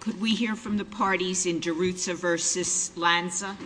Could we hear from the parties in Deruzza v. Lanza?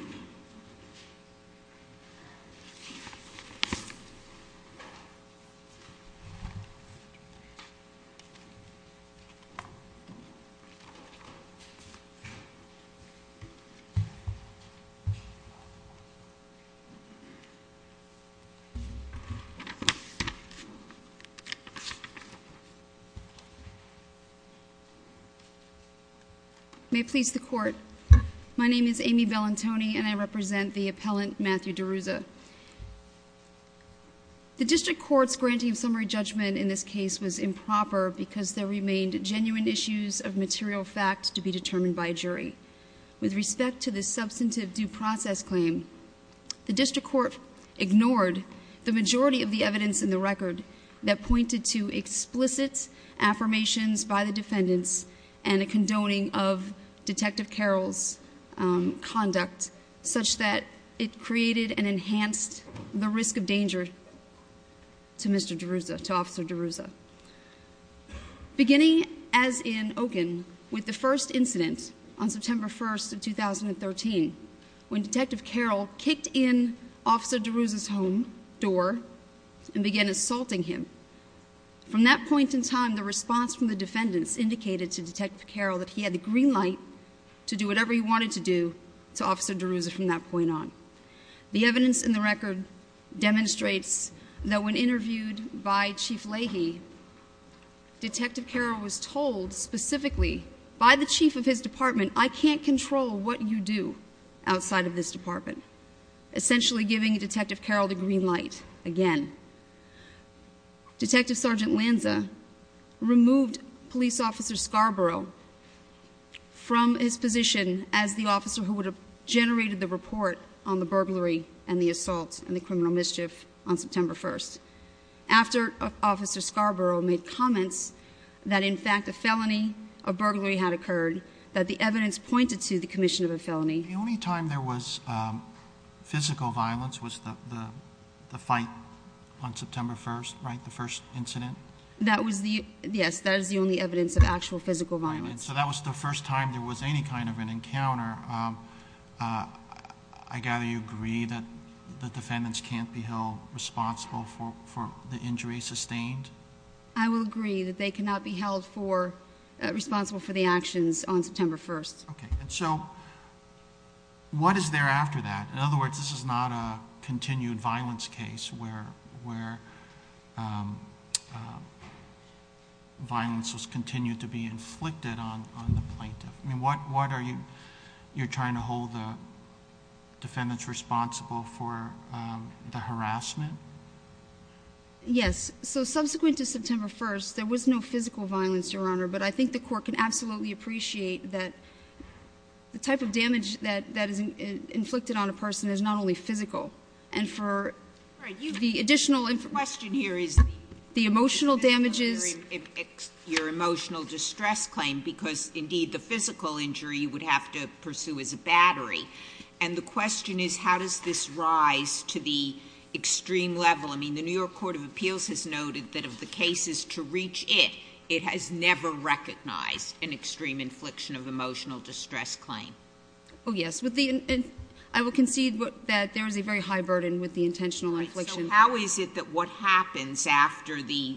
May it please the Court, my name is Amy Bellantoni and I represent the appellant Matthew Deruzza. The District Court's granting of summary judgment in this case was improper because there remained genuine issues of material fact to be determined by a jury. With respect to this substantive due process claim, the District Court ignored the majority of the evidence in the record that pointed to explicit affirmations by the defendants and a condoning of Detective Carroll's conduct such that it created and enhanced the risk of danger to Mr. Deruzza, to Officer Deruzza. Beginning as in Oaken, with the first incident on September 1, 2013, when Detective Carroll kicked in Officer Deruzza's home door and began assaulting him, from that point in time the response from the defendants indicated to Detective Carroll that he had the green light to do whatever he wanted to do to Officer Deruzza from that point on. The evidence in the record demonstrates that when interviewed by Chief Leahy, Detective Carroll was told specifically by the chief of his department, I can't control what you do outside of this department, essentially giving Detective Carroll the green light again. Detective Sergeant Lanza removed Police Officer Scarborough from his position as the officer who would have generated the report on the burglary and the assault and the criminal mischief on September 1, after Officer Scarborough made comments that in fact a felony, a burglary had occurred, that the evidence pointed to the commission of a felony. The only time there was physical violence was the fight on September 1, right, the first incident? That was the, yes, that is the only evidence of actual physical violence. That was the first time there was any kind of an encounter. I gather you agree that the defendants can't be held responsible for the injury sustained? I will agree that they cannot be held responsible for the actions on September 1. What is there after that? In other words, this is not a continued violence case where violence was continued to be inflicted on the plaintiff. What are you trying to hold the defendants responsible for, the harassment? Yes, so subsequent to September 1, there was no physical violence, Your Honor, but I think the court can absolutely appreciate that the type of damage that is inflicted on a person is not only physical. And for the additional information. The question here is the emotional damages. Your emotional distress claim, because indeed the physical injury you would have to pursue is a battery. And the question is how does this rise to the extreme level? I mean, the New York Court of Appeals has noted that if the case is to reach it, it has never recognized an extreme infliction of emotional distress claim. Oh, yes. I will concede that there is a very high burden with the intentional infliction. So how is it that what happens after the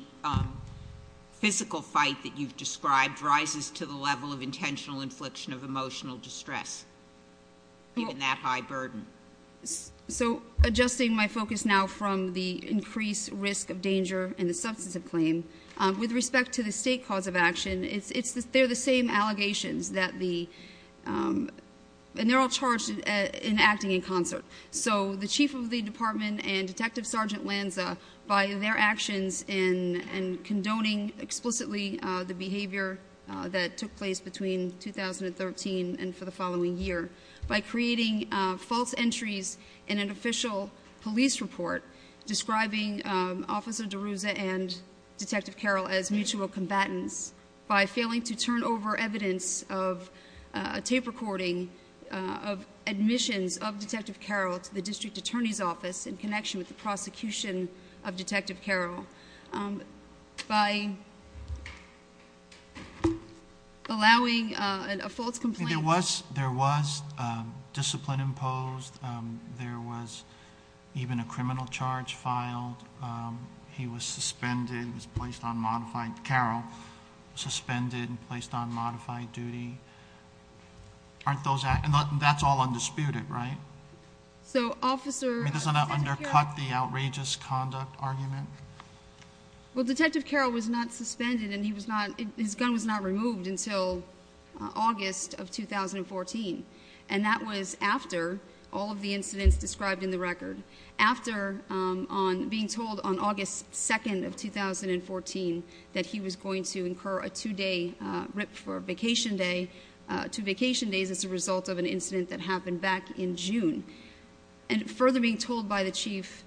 physical fight that you've described rises to the level of intentional infliction of emotional distress, given that high burden? So adjusting my focus now from the increased risk of danger in the substance of claim, with respect to the state cause of action, they're the same allegations. And they're all charged in acting in concert. So the chief of the department and Detective Sergeant Lanza, by their actions and condoning explicitly the behavior that took place between 2013 and for the following year, by creating false entries in an official police report describing Officer DeRuza and Detective Carroll as mutual combatants, by failing to turn over evidence of a tape recording of admissions of Detective Carroll to the district attorney's office in connection with the prosecution of Detective Carroll, by allowing a false complaint. There was discipline imposed. There was even a criminal charge filed. He was suspended and was placed on modified duty. And that's all undisputed, right? It doesn't undercut the outrageous conduct argument? Well, Detective Carroll was not suspended and his gun was not removed until August of 2014, and that was after all of the incidents described in the record, after being told on August 2nd of 2014 that he was going to incur a two-day rip for vacation day, two vacation days as a result of an incident that happened back in June, and further being told by the chief,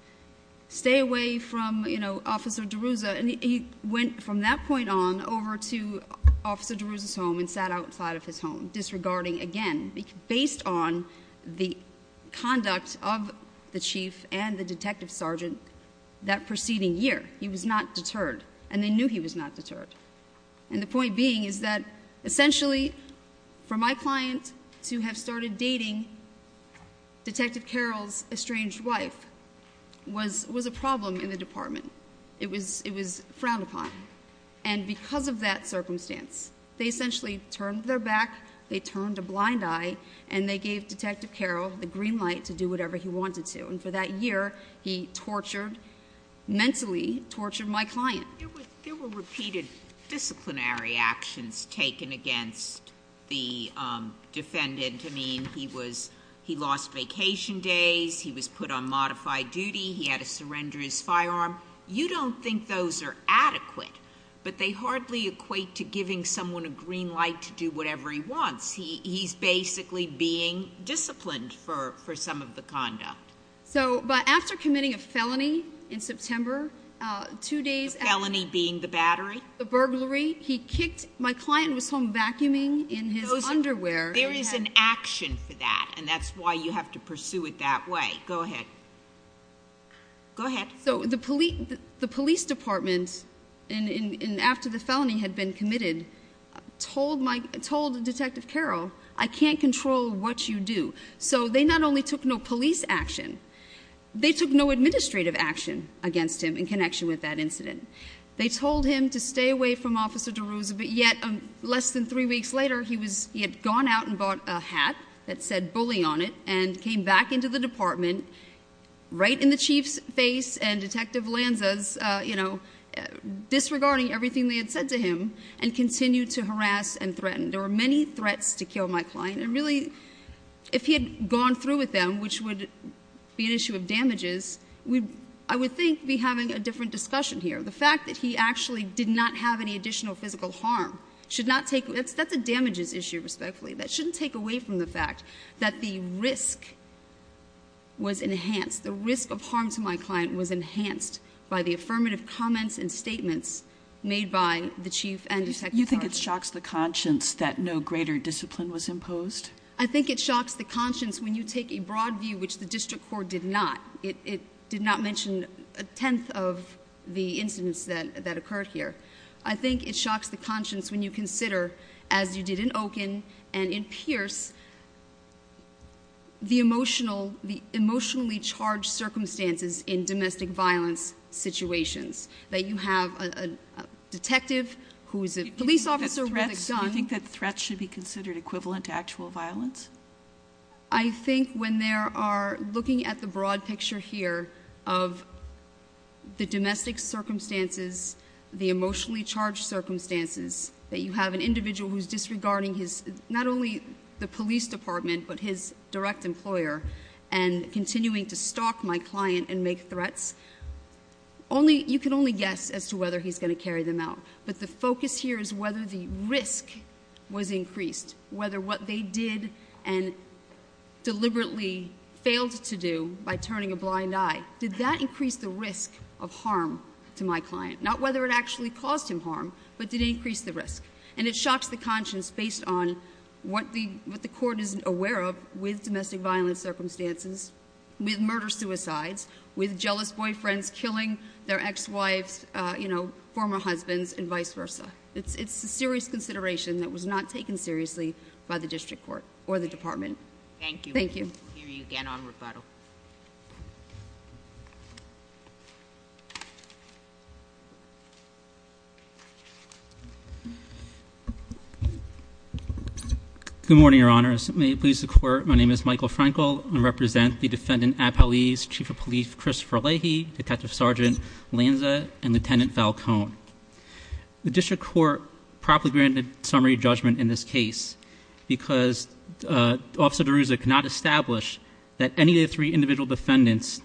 stay away from Officer DeRuza. And he went from that point on over to Officer DeRuza's home and sat outside of his home, disregarding again, based on the conduct of the chief and the detective sergeant that preceding year. He was not deterred, and they knew he was not deterred. And the point being is that essentially for my client to have started dating Detective Carroll's estranged wife was a problem in the department. It was frowned upon. And because of that circumstance, they essentially turned their back, they turned a blind eye, and they gave Detective Carroll the green light to do whatever he wanted to. And for that year, he tortured, mentally tortured my client. There were repeated disciplinary actions taken against the defendant. I mean, he lost vacation days. He was put on modified duty. He had to surrender his firearm. You don't think those are adequate, but they hardly equate to giving someone a green light to do whatever he wants. He's basically being disciplined for some of the conduct. So, but after committing a felony in September, two days after... A felony being the battery? The burglary. He kicked, my client was home vacuuming in his underwear. There is an action for that, and that's why you have to pursue it that way. Go ahead. Go ahead. So the police department, after the felony had been committed, told Detective Carroll, I can't control what you do. So they not only took no police action, they took no administrative action against him in connection with that incident. They told him to stay away from Officer DeRosa, but yet, less than three weeks later, he had gone out and bought a hat that said bully on it and came back into the department, right in the chief's face and Detective Lanza's, you know, disregarding everything they had said to him, and continued to harass and threaten. There were many threats to kill my client. And really, if he had gone through with them, which would be an issue of damages, I would think we'd be having a different discussion here. The fact that he actually did not have any additional physical harm should not take, that's a damages issue, respectfully. That shouldn't take away from the fact that the risk was enhanced, the risk of harm to my client was enhanced by the affirmative comments and statements made by the chief and Detective Carroll. I think it shocks the conscience that no greater discipline was imposed. I think it shocks the conscience when you take a broad view, which the district court did not. It did not mention a tenth of the incidents that occurred here. I think it shocks the conscience when you consider, as you did in Oken and in Pierce, the emotionally charged circumstances in domestic violence situations, that you have a detective who is a police officer with a gun. Do you think that threats should be considered equivalent to actual violence? I think when they are looking at the broad picture here of the domestic circumstances, the emotionally charged circumstances, that you have an individual who is disregarding his, not only the police department, but his direct employer, and continuing to stalk my client and make threats. You can only guess as to whether he's going to carry them out. But the focus here is whether the risk was increased, whether what they did and deliberately failed to do by turning a blind eye, did that increase the risk of harm to my client? Not whether it actually caused him harm, but did it increase the risk? And it shocks the conscience based on what the court is aware of with domestic violence circumstances, with murder suicides, with jealous boyfriends killing their ex-wives, former husbands, and vice versa. It's a serious consideration that was not taken seriously by the district court or the department. Thank you. Thank you. We'll hear you again on rebuttal. Good morning, Your Honors. May it please the Court, my name is Michael Frankel. I represent the defendant Apalis, Chief of Police Christopher Leahy, Detective Sergeant Lanza, and Lieutenant Falcone. The district court properly granted summary judgment in this case because Officer DeRouza cannot establish that any of the three individual defendants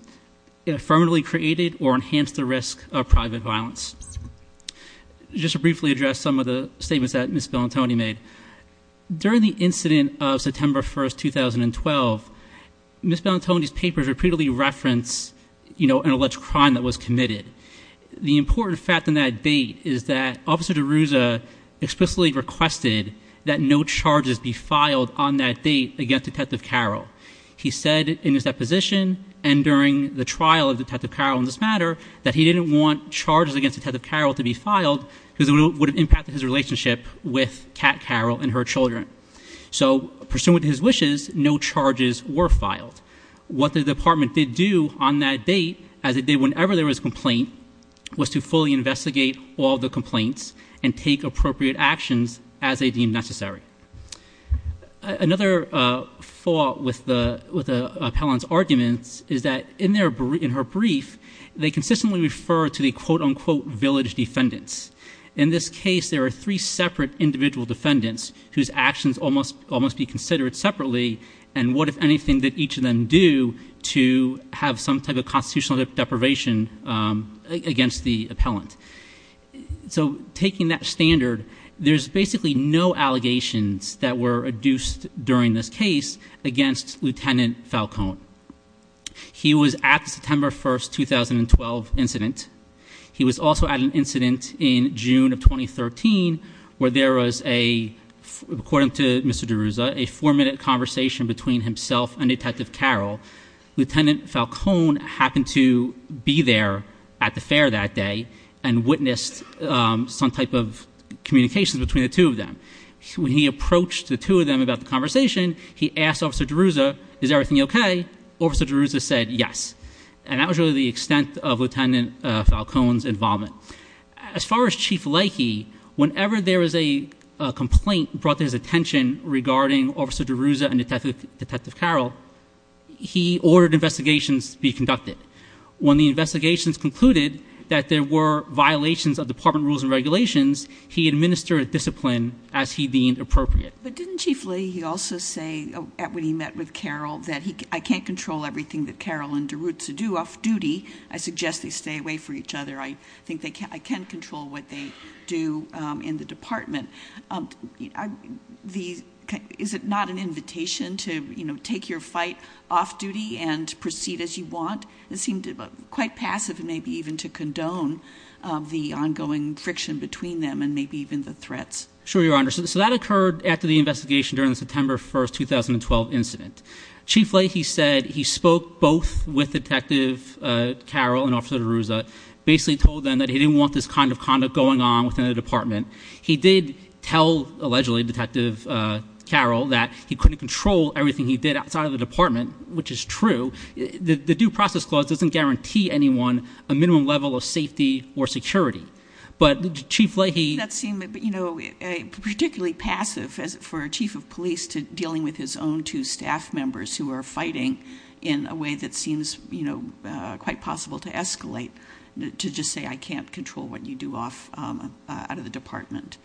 affirmatively created or enhanced the risk of private violence. Just to briefly address some of the statements that Ms. Bellantoni made. During the incident of September 1st, 2012, Ms. Bellantoni's papers repeatedly referenced an alleged crime that was committed. The important fact on that date is that Officer DeRouza explicitly requested that no charges be filed on that date against Detective Carroll. He said in his deposition and during the trial of Detective Carroll in this matter that he didn't want charges against Detective Carroll to be filed because it would have impacted his relationship with Cat Carroll and her children. So, pursuant to his wishes, no charges were filed. What the department did do on that date, as it did whenever there was a complaint, was to fully investigate all the complaints and take appropriate actions as they deemed necessary. Another flaw with the appellant's arguments is that in her brief, they consistently refer to the quote-unquote village defendants. In this case, there are three separate individual defendants whose actions all must be considered separately. And what, if anything, did each of them do to have some type of constitutional deprivation against the appellant? So, taking that standard, there's basically no allegations that were adduced during this case against Lieutenant Falcone. He was at the September 1st, 2012 incident. He was also at an incident in June of 2013 where there was a, according to Mr. DeRouza, a four minute conversation between himself and Detective Carroll. Lieutenant Falcone happened to be there at the fair that day and witnessed some type of communication between the two of them. When he approached the two of them about the conversation, he asked Officer DeRouza, is everything okay? Officer DeRouza said yes. And that was really the extent of Lieutenant Falcone's involvement. As far as Chief Lakey, whenever there was a complaint brought to his attention regarding Officer DeRouza and Detective Carroll. He ordered investigations be conducted. When the investigations concluded that there were violations of department rules and regulations, he administered discipline as he deemed appropriate. But didn't Chief Lakey also say, when he met with Carroll, that I can't control everything that Carroll and DeRouza do off-duty. I suggest they stay away from each other. I think I can control what they do in the department. Is it not an invitation to take your fight off duty and proceed as you want? It seemed quite passive, maybe even to condone the ongoing friction between them and maybe even the threats. Sure, Your Honor. So that occurred after the investigation during the September 1st, 2012 incident. Chief Lakey said he spoke both with Detective Carroll and Officer DeRouza, basically told them that he didn't want this kind of conduct going on within the department. He did tell, allegedly, Detective Carroll that he couldn't control everything he did outside of the department, which is true. The due process clause doesn't guarantee anyone a minimum level of safety or security. But Chief Lakey- That seemed particularly passive for a chief of police to dealing with his own two staff members who are fighting in a way that seems quite possible to escalate, to just say I can't control what you do out of the department.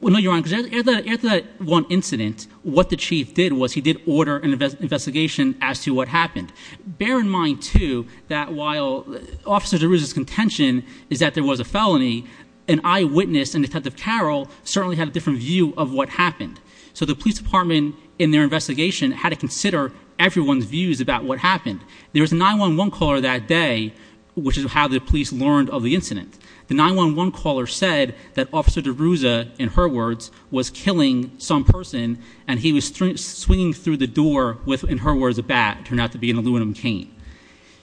Well, no, Your Honor, because after that one incident, what the chief did was he did order an investigation as to what happened. Bear in mind, too, that while Officer DeRouza's contention is that there was a felony, an eyewitness and Detective Carroll certainly had a different view of what happened. So the police department, in their investigation, had to consider everyone's views about what happened. There was a 911 caller that day, which is how the police learned of the incident. The 911 caller said that Officer DeRouza, in her words, was killing some person and he was swinging through the door with, in her words, a bat, turned out to be an aluminum cane.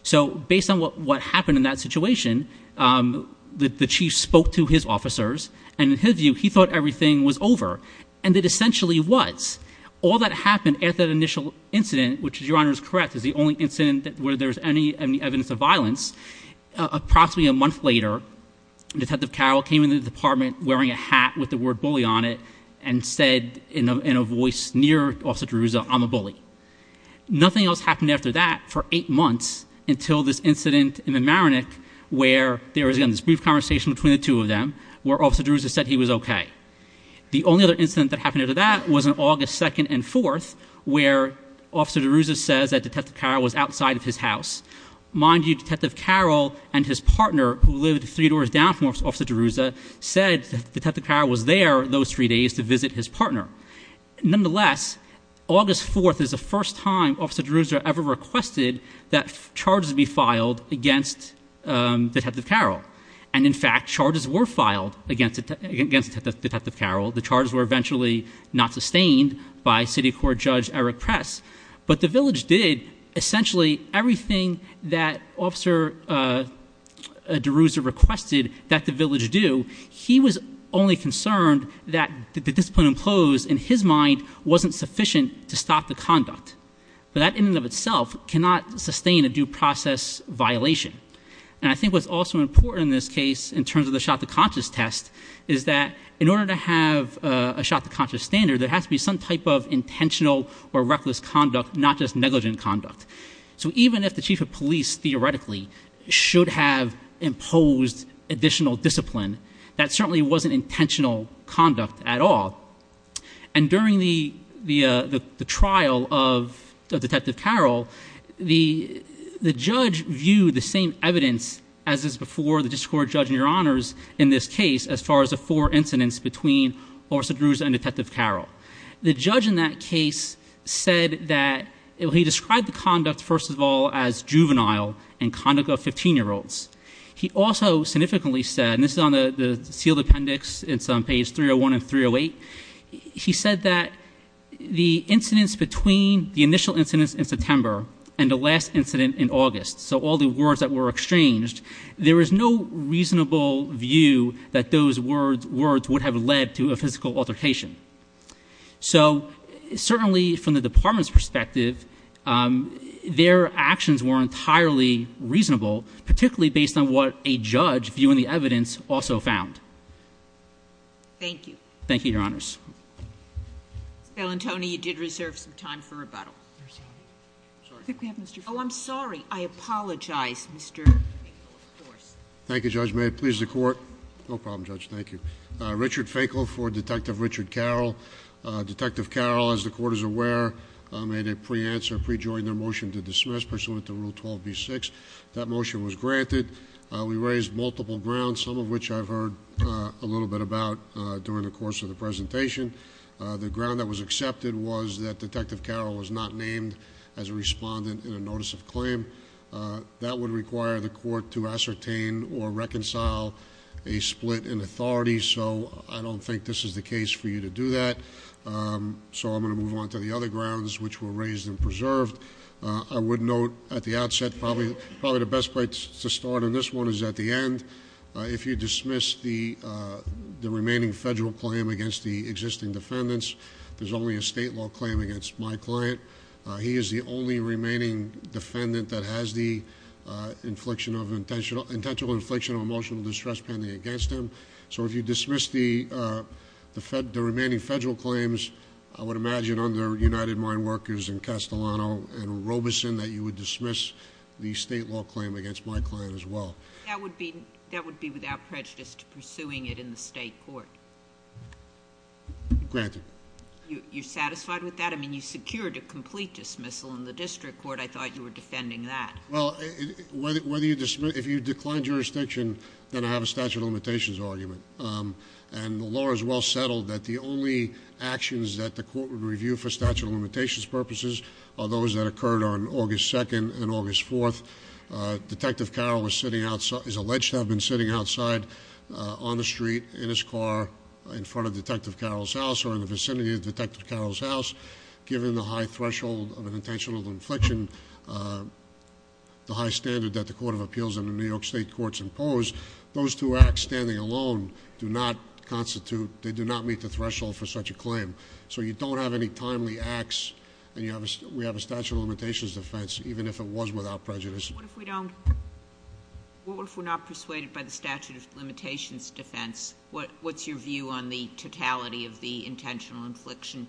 So based on what happened in that situation, the chief spoke to his officers. And in his view, he thought everything was over, and it essentially was. All that happened at that initial incident, which, Your Honor is correct, is the only incident where there's any evidence of violence. Approximately a month later, Detective Carroll came into the department wearing a hat with the word bully on it, and said in a voice near Officer DeRouza, I'm a bully. Nothing else happened after that for eight months until this incident in the Maronick, where there was again this brief conversation between the two of them, where Officer DeRouza said he was okay. The only other incident that happened after that was on August 2nd and 4th, where Officer DeRouza says that Detective Carroll was outside of his house. Mind you, Detective Carroll and his partner, who lived three doors down from Officer DeRouza, said that Detective Carroll was there those three days to visit his partner. Nonetheless, August 4th is the first time Officer DeRouza ever requested that charges be filed against Detective Carroll. And in fact, charges were filed against Detective Carroll. The charges were eventually not sustained by City Court Judge Eric Press. But the village did essentially everything that Officer DeRouza requested that the village do. He was only concerned that the discipline imposed in his mind wasn't sufficient to stop the conduct. But that in and of itself cannot sustain a due process violation. And I think what's also important in this case, in terms of the shot to conscious test, is that in order to have a shot to conscious standard, there has to be some type of intentional or reckless conduct, not just negligent conduct. So even if the chief of police theoretically should have imposed additional discipline, that certainly wasn't intentional conduct at all. And during the trial of Detective Carroll, the judge viewed the same evidence as is before the district court judge and your honors in this case as far as the four incidents between Officer DeRouza and Detective Carroll. The judge in that case said that he described the conduct first of all as juvenile and conduct of 15 year olds. He also significantly said, and this is on the sealed appendix, it's on page 301 and 308. He said that the incidents between the initial incidents in September and the last incident in August, so all the words that were exchanged, there was no reasonable view that those words would have led to a physical altercation. So certainly from the department's perspective, their actions were entirely reasonable, particularly based on what a judge, viewing the evidence, also found. Thank you. Thank you, your honors. Bellantoni, you did reserve some time for rebuttal. I'm sorry, I apologize, Mr. Finkle, of course. Thank you, Judge, may it please the court? No problem, Judge, thank you. Richard Finkle for Detective Richard Carroll. Detective Carroll, as the court is aware, made a pre-answer, pre-joined their motion to dismiss pursuant to Rule 12B6. That motion was granted. We raised multiple grounds, some of which I've heard a little bit about during the course of the presentation. The ground that was accepted was that Detective Carroll was not named as a respondent in a notice of claim. That would require the court to ascertain or reconcile a split in authority. So I don't think this is the case for you to do that, so I'm going to move on to the other grounds which were raised and preserved. I would note at the outset, probably the best place to start on this one is at the end. If you dismiss the remaining federal claim against the existing defendants, there's only a state law claim against my client. He is the only remaining defendant that has the intentional infliction of emotional distress pending against him. So if you dismiss the remaining federal claims, I would imagine under United Mine Workers and Castellano and Robeson that you would dismiss the state law claim against my client as well. That would be without prejudice to pursuing it in the state court. Granted. You're satisfied with that? I mean, you secured a complete dismissal in the district court. I thought you were defending that. Well, if you decline jurisdiction, then I have a statute of limitations argument. And the law is well settled that the only actions that the court would review for statute of limitations purposes are those that occurred on August 2nd and August 4th. Detective Carroll is alleged to have been sitting outside on the street, in his car, in front of Detective Carroll's house or in the vicinity of Detective Carroll's house. Given the high threshold of an intentional infliction, the high standard that the Court of Appeals and the New York Court of Appeals do not constitute, they do not meet the threshold for such a claim. So you don't have any timely acts, and we have a statute of limitations defense, even if it was without prejudice. What if we don't, what if we're not persuaded by the statute of limitations defense? What's your view on the totality of the intentional infliction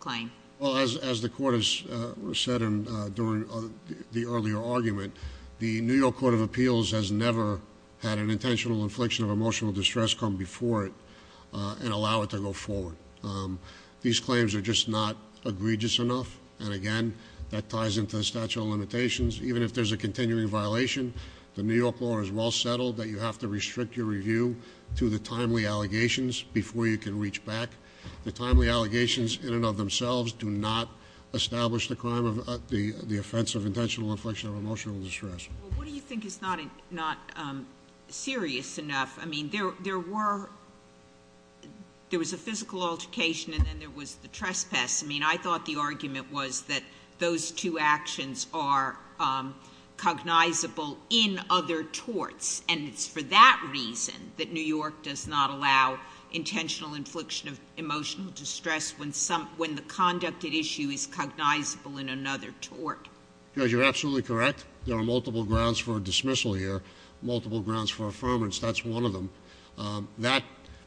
claim? Well, as the court has said during the earlier argument, the New York Court of Appeals has never had an intentional infliction of emotional distress come before it and allow it to go forward. These claims are just not egregious enough, and again, that ties into the statute of limitations. Even if there's a continuing violation, the New York law is well settled that you have to restrict your review to the timely allegations before you can reach back. The timely allegations in and of themselves do not establish the crime of the offense of intentional infliction of emotional distress. Well, what do you think is not serious enough? I mean, there was a physical altercation and then there was the trespass. I mean, I thought the argument was that those two actions are cognizable in other torts. And it's for that reason that New York does not allow intentional infliction of emotional distress when the conducted issue is cognizable in another tort. Because you're absolutely correct, there are multiple grounds for dismissal here, multiple grounds for affirmance, that's one of them. That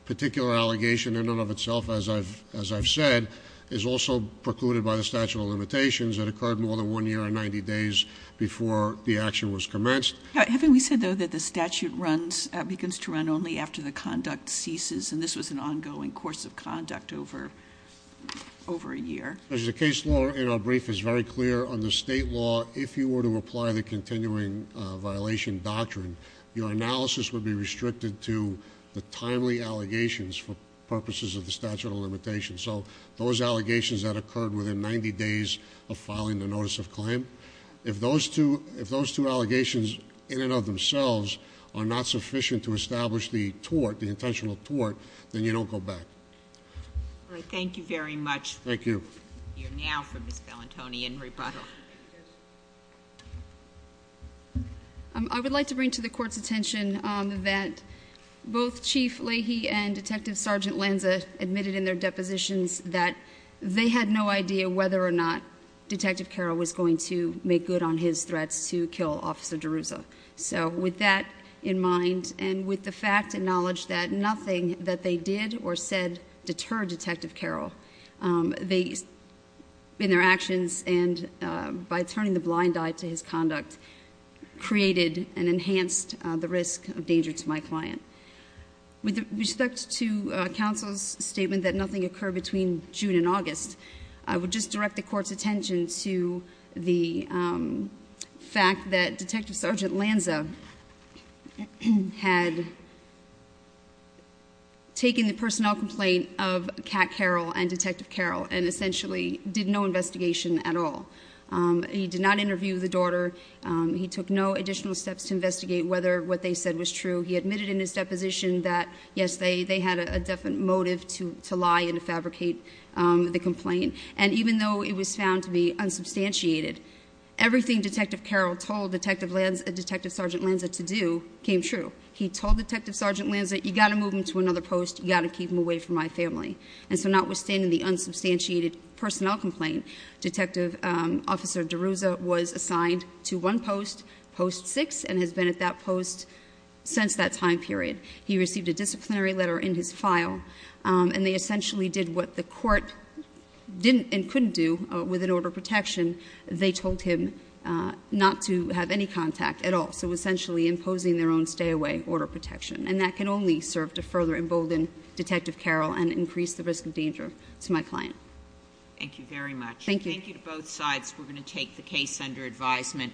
particular allegation in and of itself, as I've said, is also precluded by the statute of limitations that occurred more than one year and 90 days before the action was commenced. Having we said, though, that the statute begins to run only after the conduct ceases, and this was an ongoing course of conduct over a year. As the case law in our brief is very clear on the state law, if you were to apply the continuing violation doctrine, your analysis would be restricted to the timely allegations for purposes of the statute of limitations. So those allegations that occurred within 90 days of filing the notice of claim. If those two allegations in and of themselves are not sufficient to establish the tort, the intentional tort, then you don't go back. All right, thank you very much. Thank you. You're now for Ms. Bellantoni in rebuttal. I would like to bring to the court's attention that both Chief Leahy and Detective Sergeant Lanza admitted in their depositions that they had no idea whether or not Detective Carroll was going to make good on his threats to kill Officer DeRouza. So with that in mind, and with the fact and knowledge that nothing that they did or said deterred Detective Carroll, in their actions and by turning the blind eye to his conduct, created and enhanced the risk of danger to my client. With respect to counsel's statement that nothing occurred between June and August, I would just direct the court's attention to the fact that Detective Sergeant Lanza had taken the personnel complaint of Cat Carroll and Detective Carroll and essentially did no investigation at all. He did not interview the daughter. He took no additional steps to investigate whether what they said was true. He admitted in his deposition that, yes, they had a definite motive to lie and to fabricate the complaint. And even though it was found to be unsubstantiated, everything Detective Carroll told Detective Sergeant Lanza to do came true. He told Detective Sergeant Lanza, you gotta move him to another post, you gotta keep him away from my family. And so notwithstanding the unsubstantiated personnel complaint, Detective Officer DeRouza was assigned to one post, post six, and has been at that post since that time period. He received a disciplinary letter in his file, and they essentially did what the court didn't and couldn't do with an order of protection, they told him not to have any contact at all. So essentially imposing their own stay away order of protection. And that can only serve to further embolden Detective Carroll and increase the risk of danger to my client. Thank you very much. Thank you. Thank you to both sides. We're going to take the case under advisement.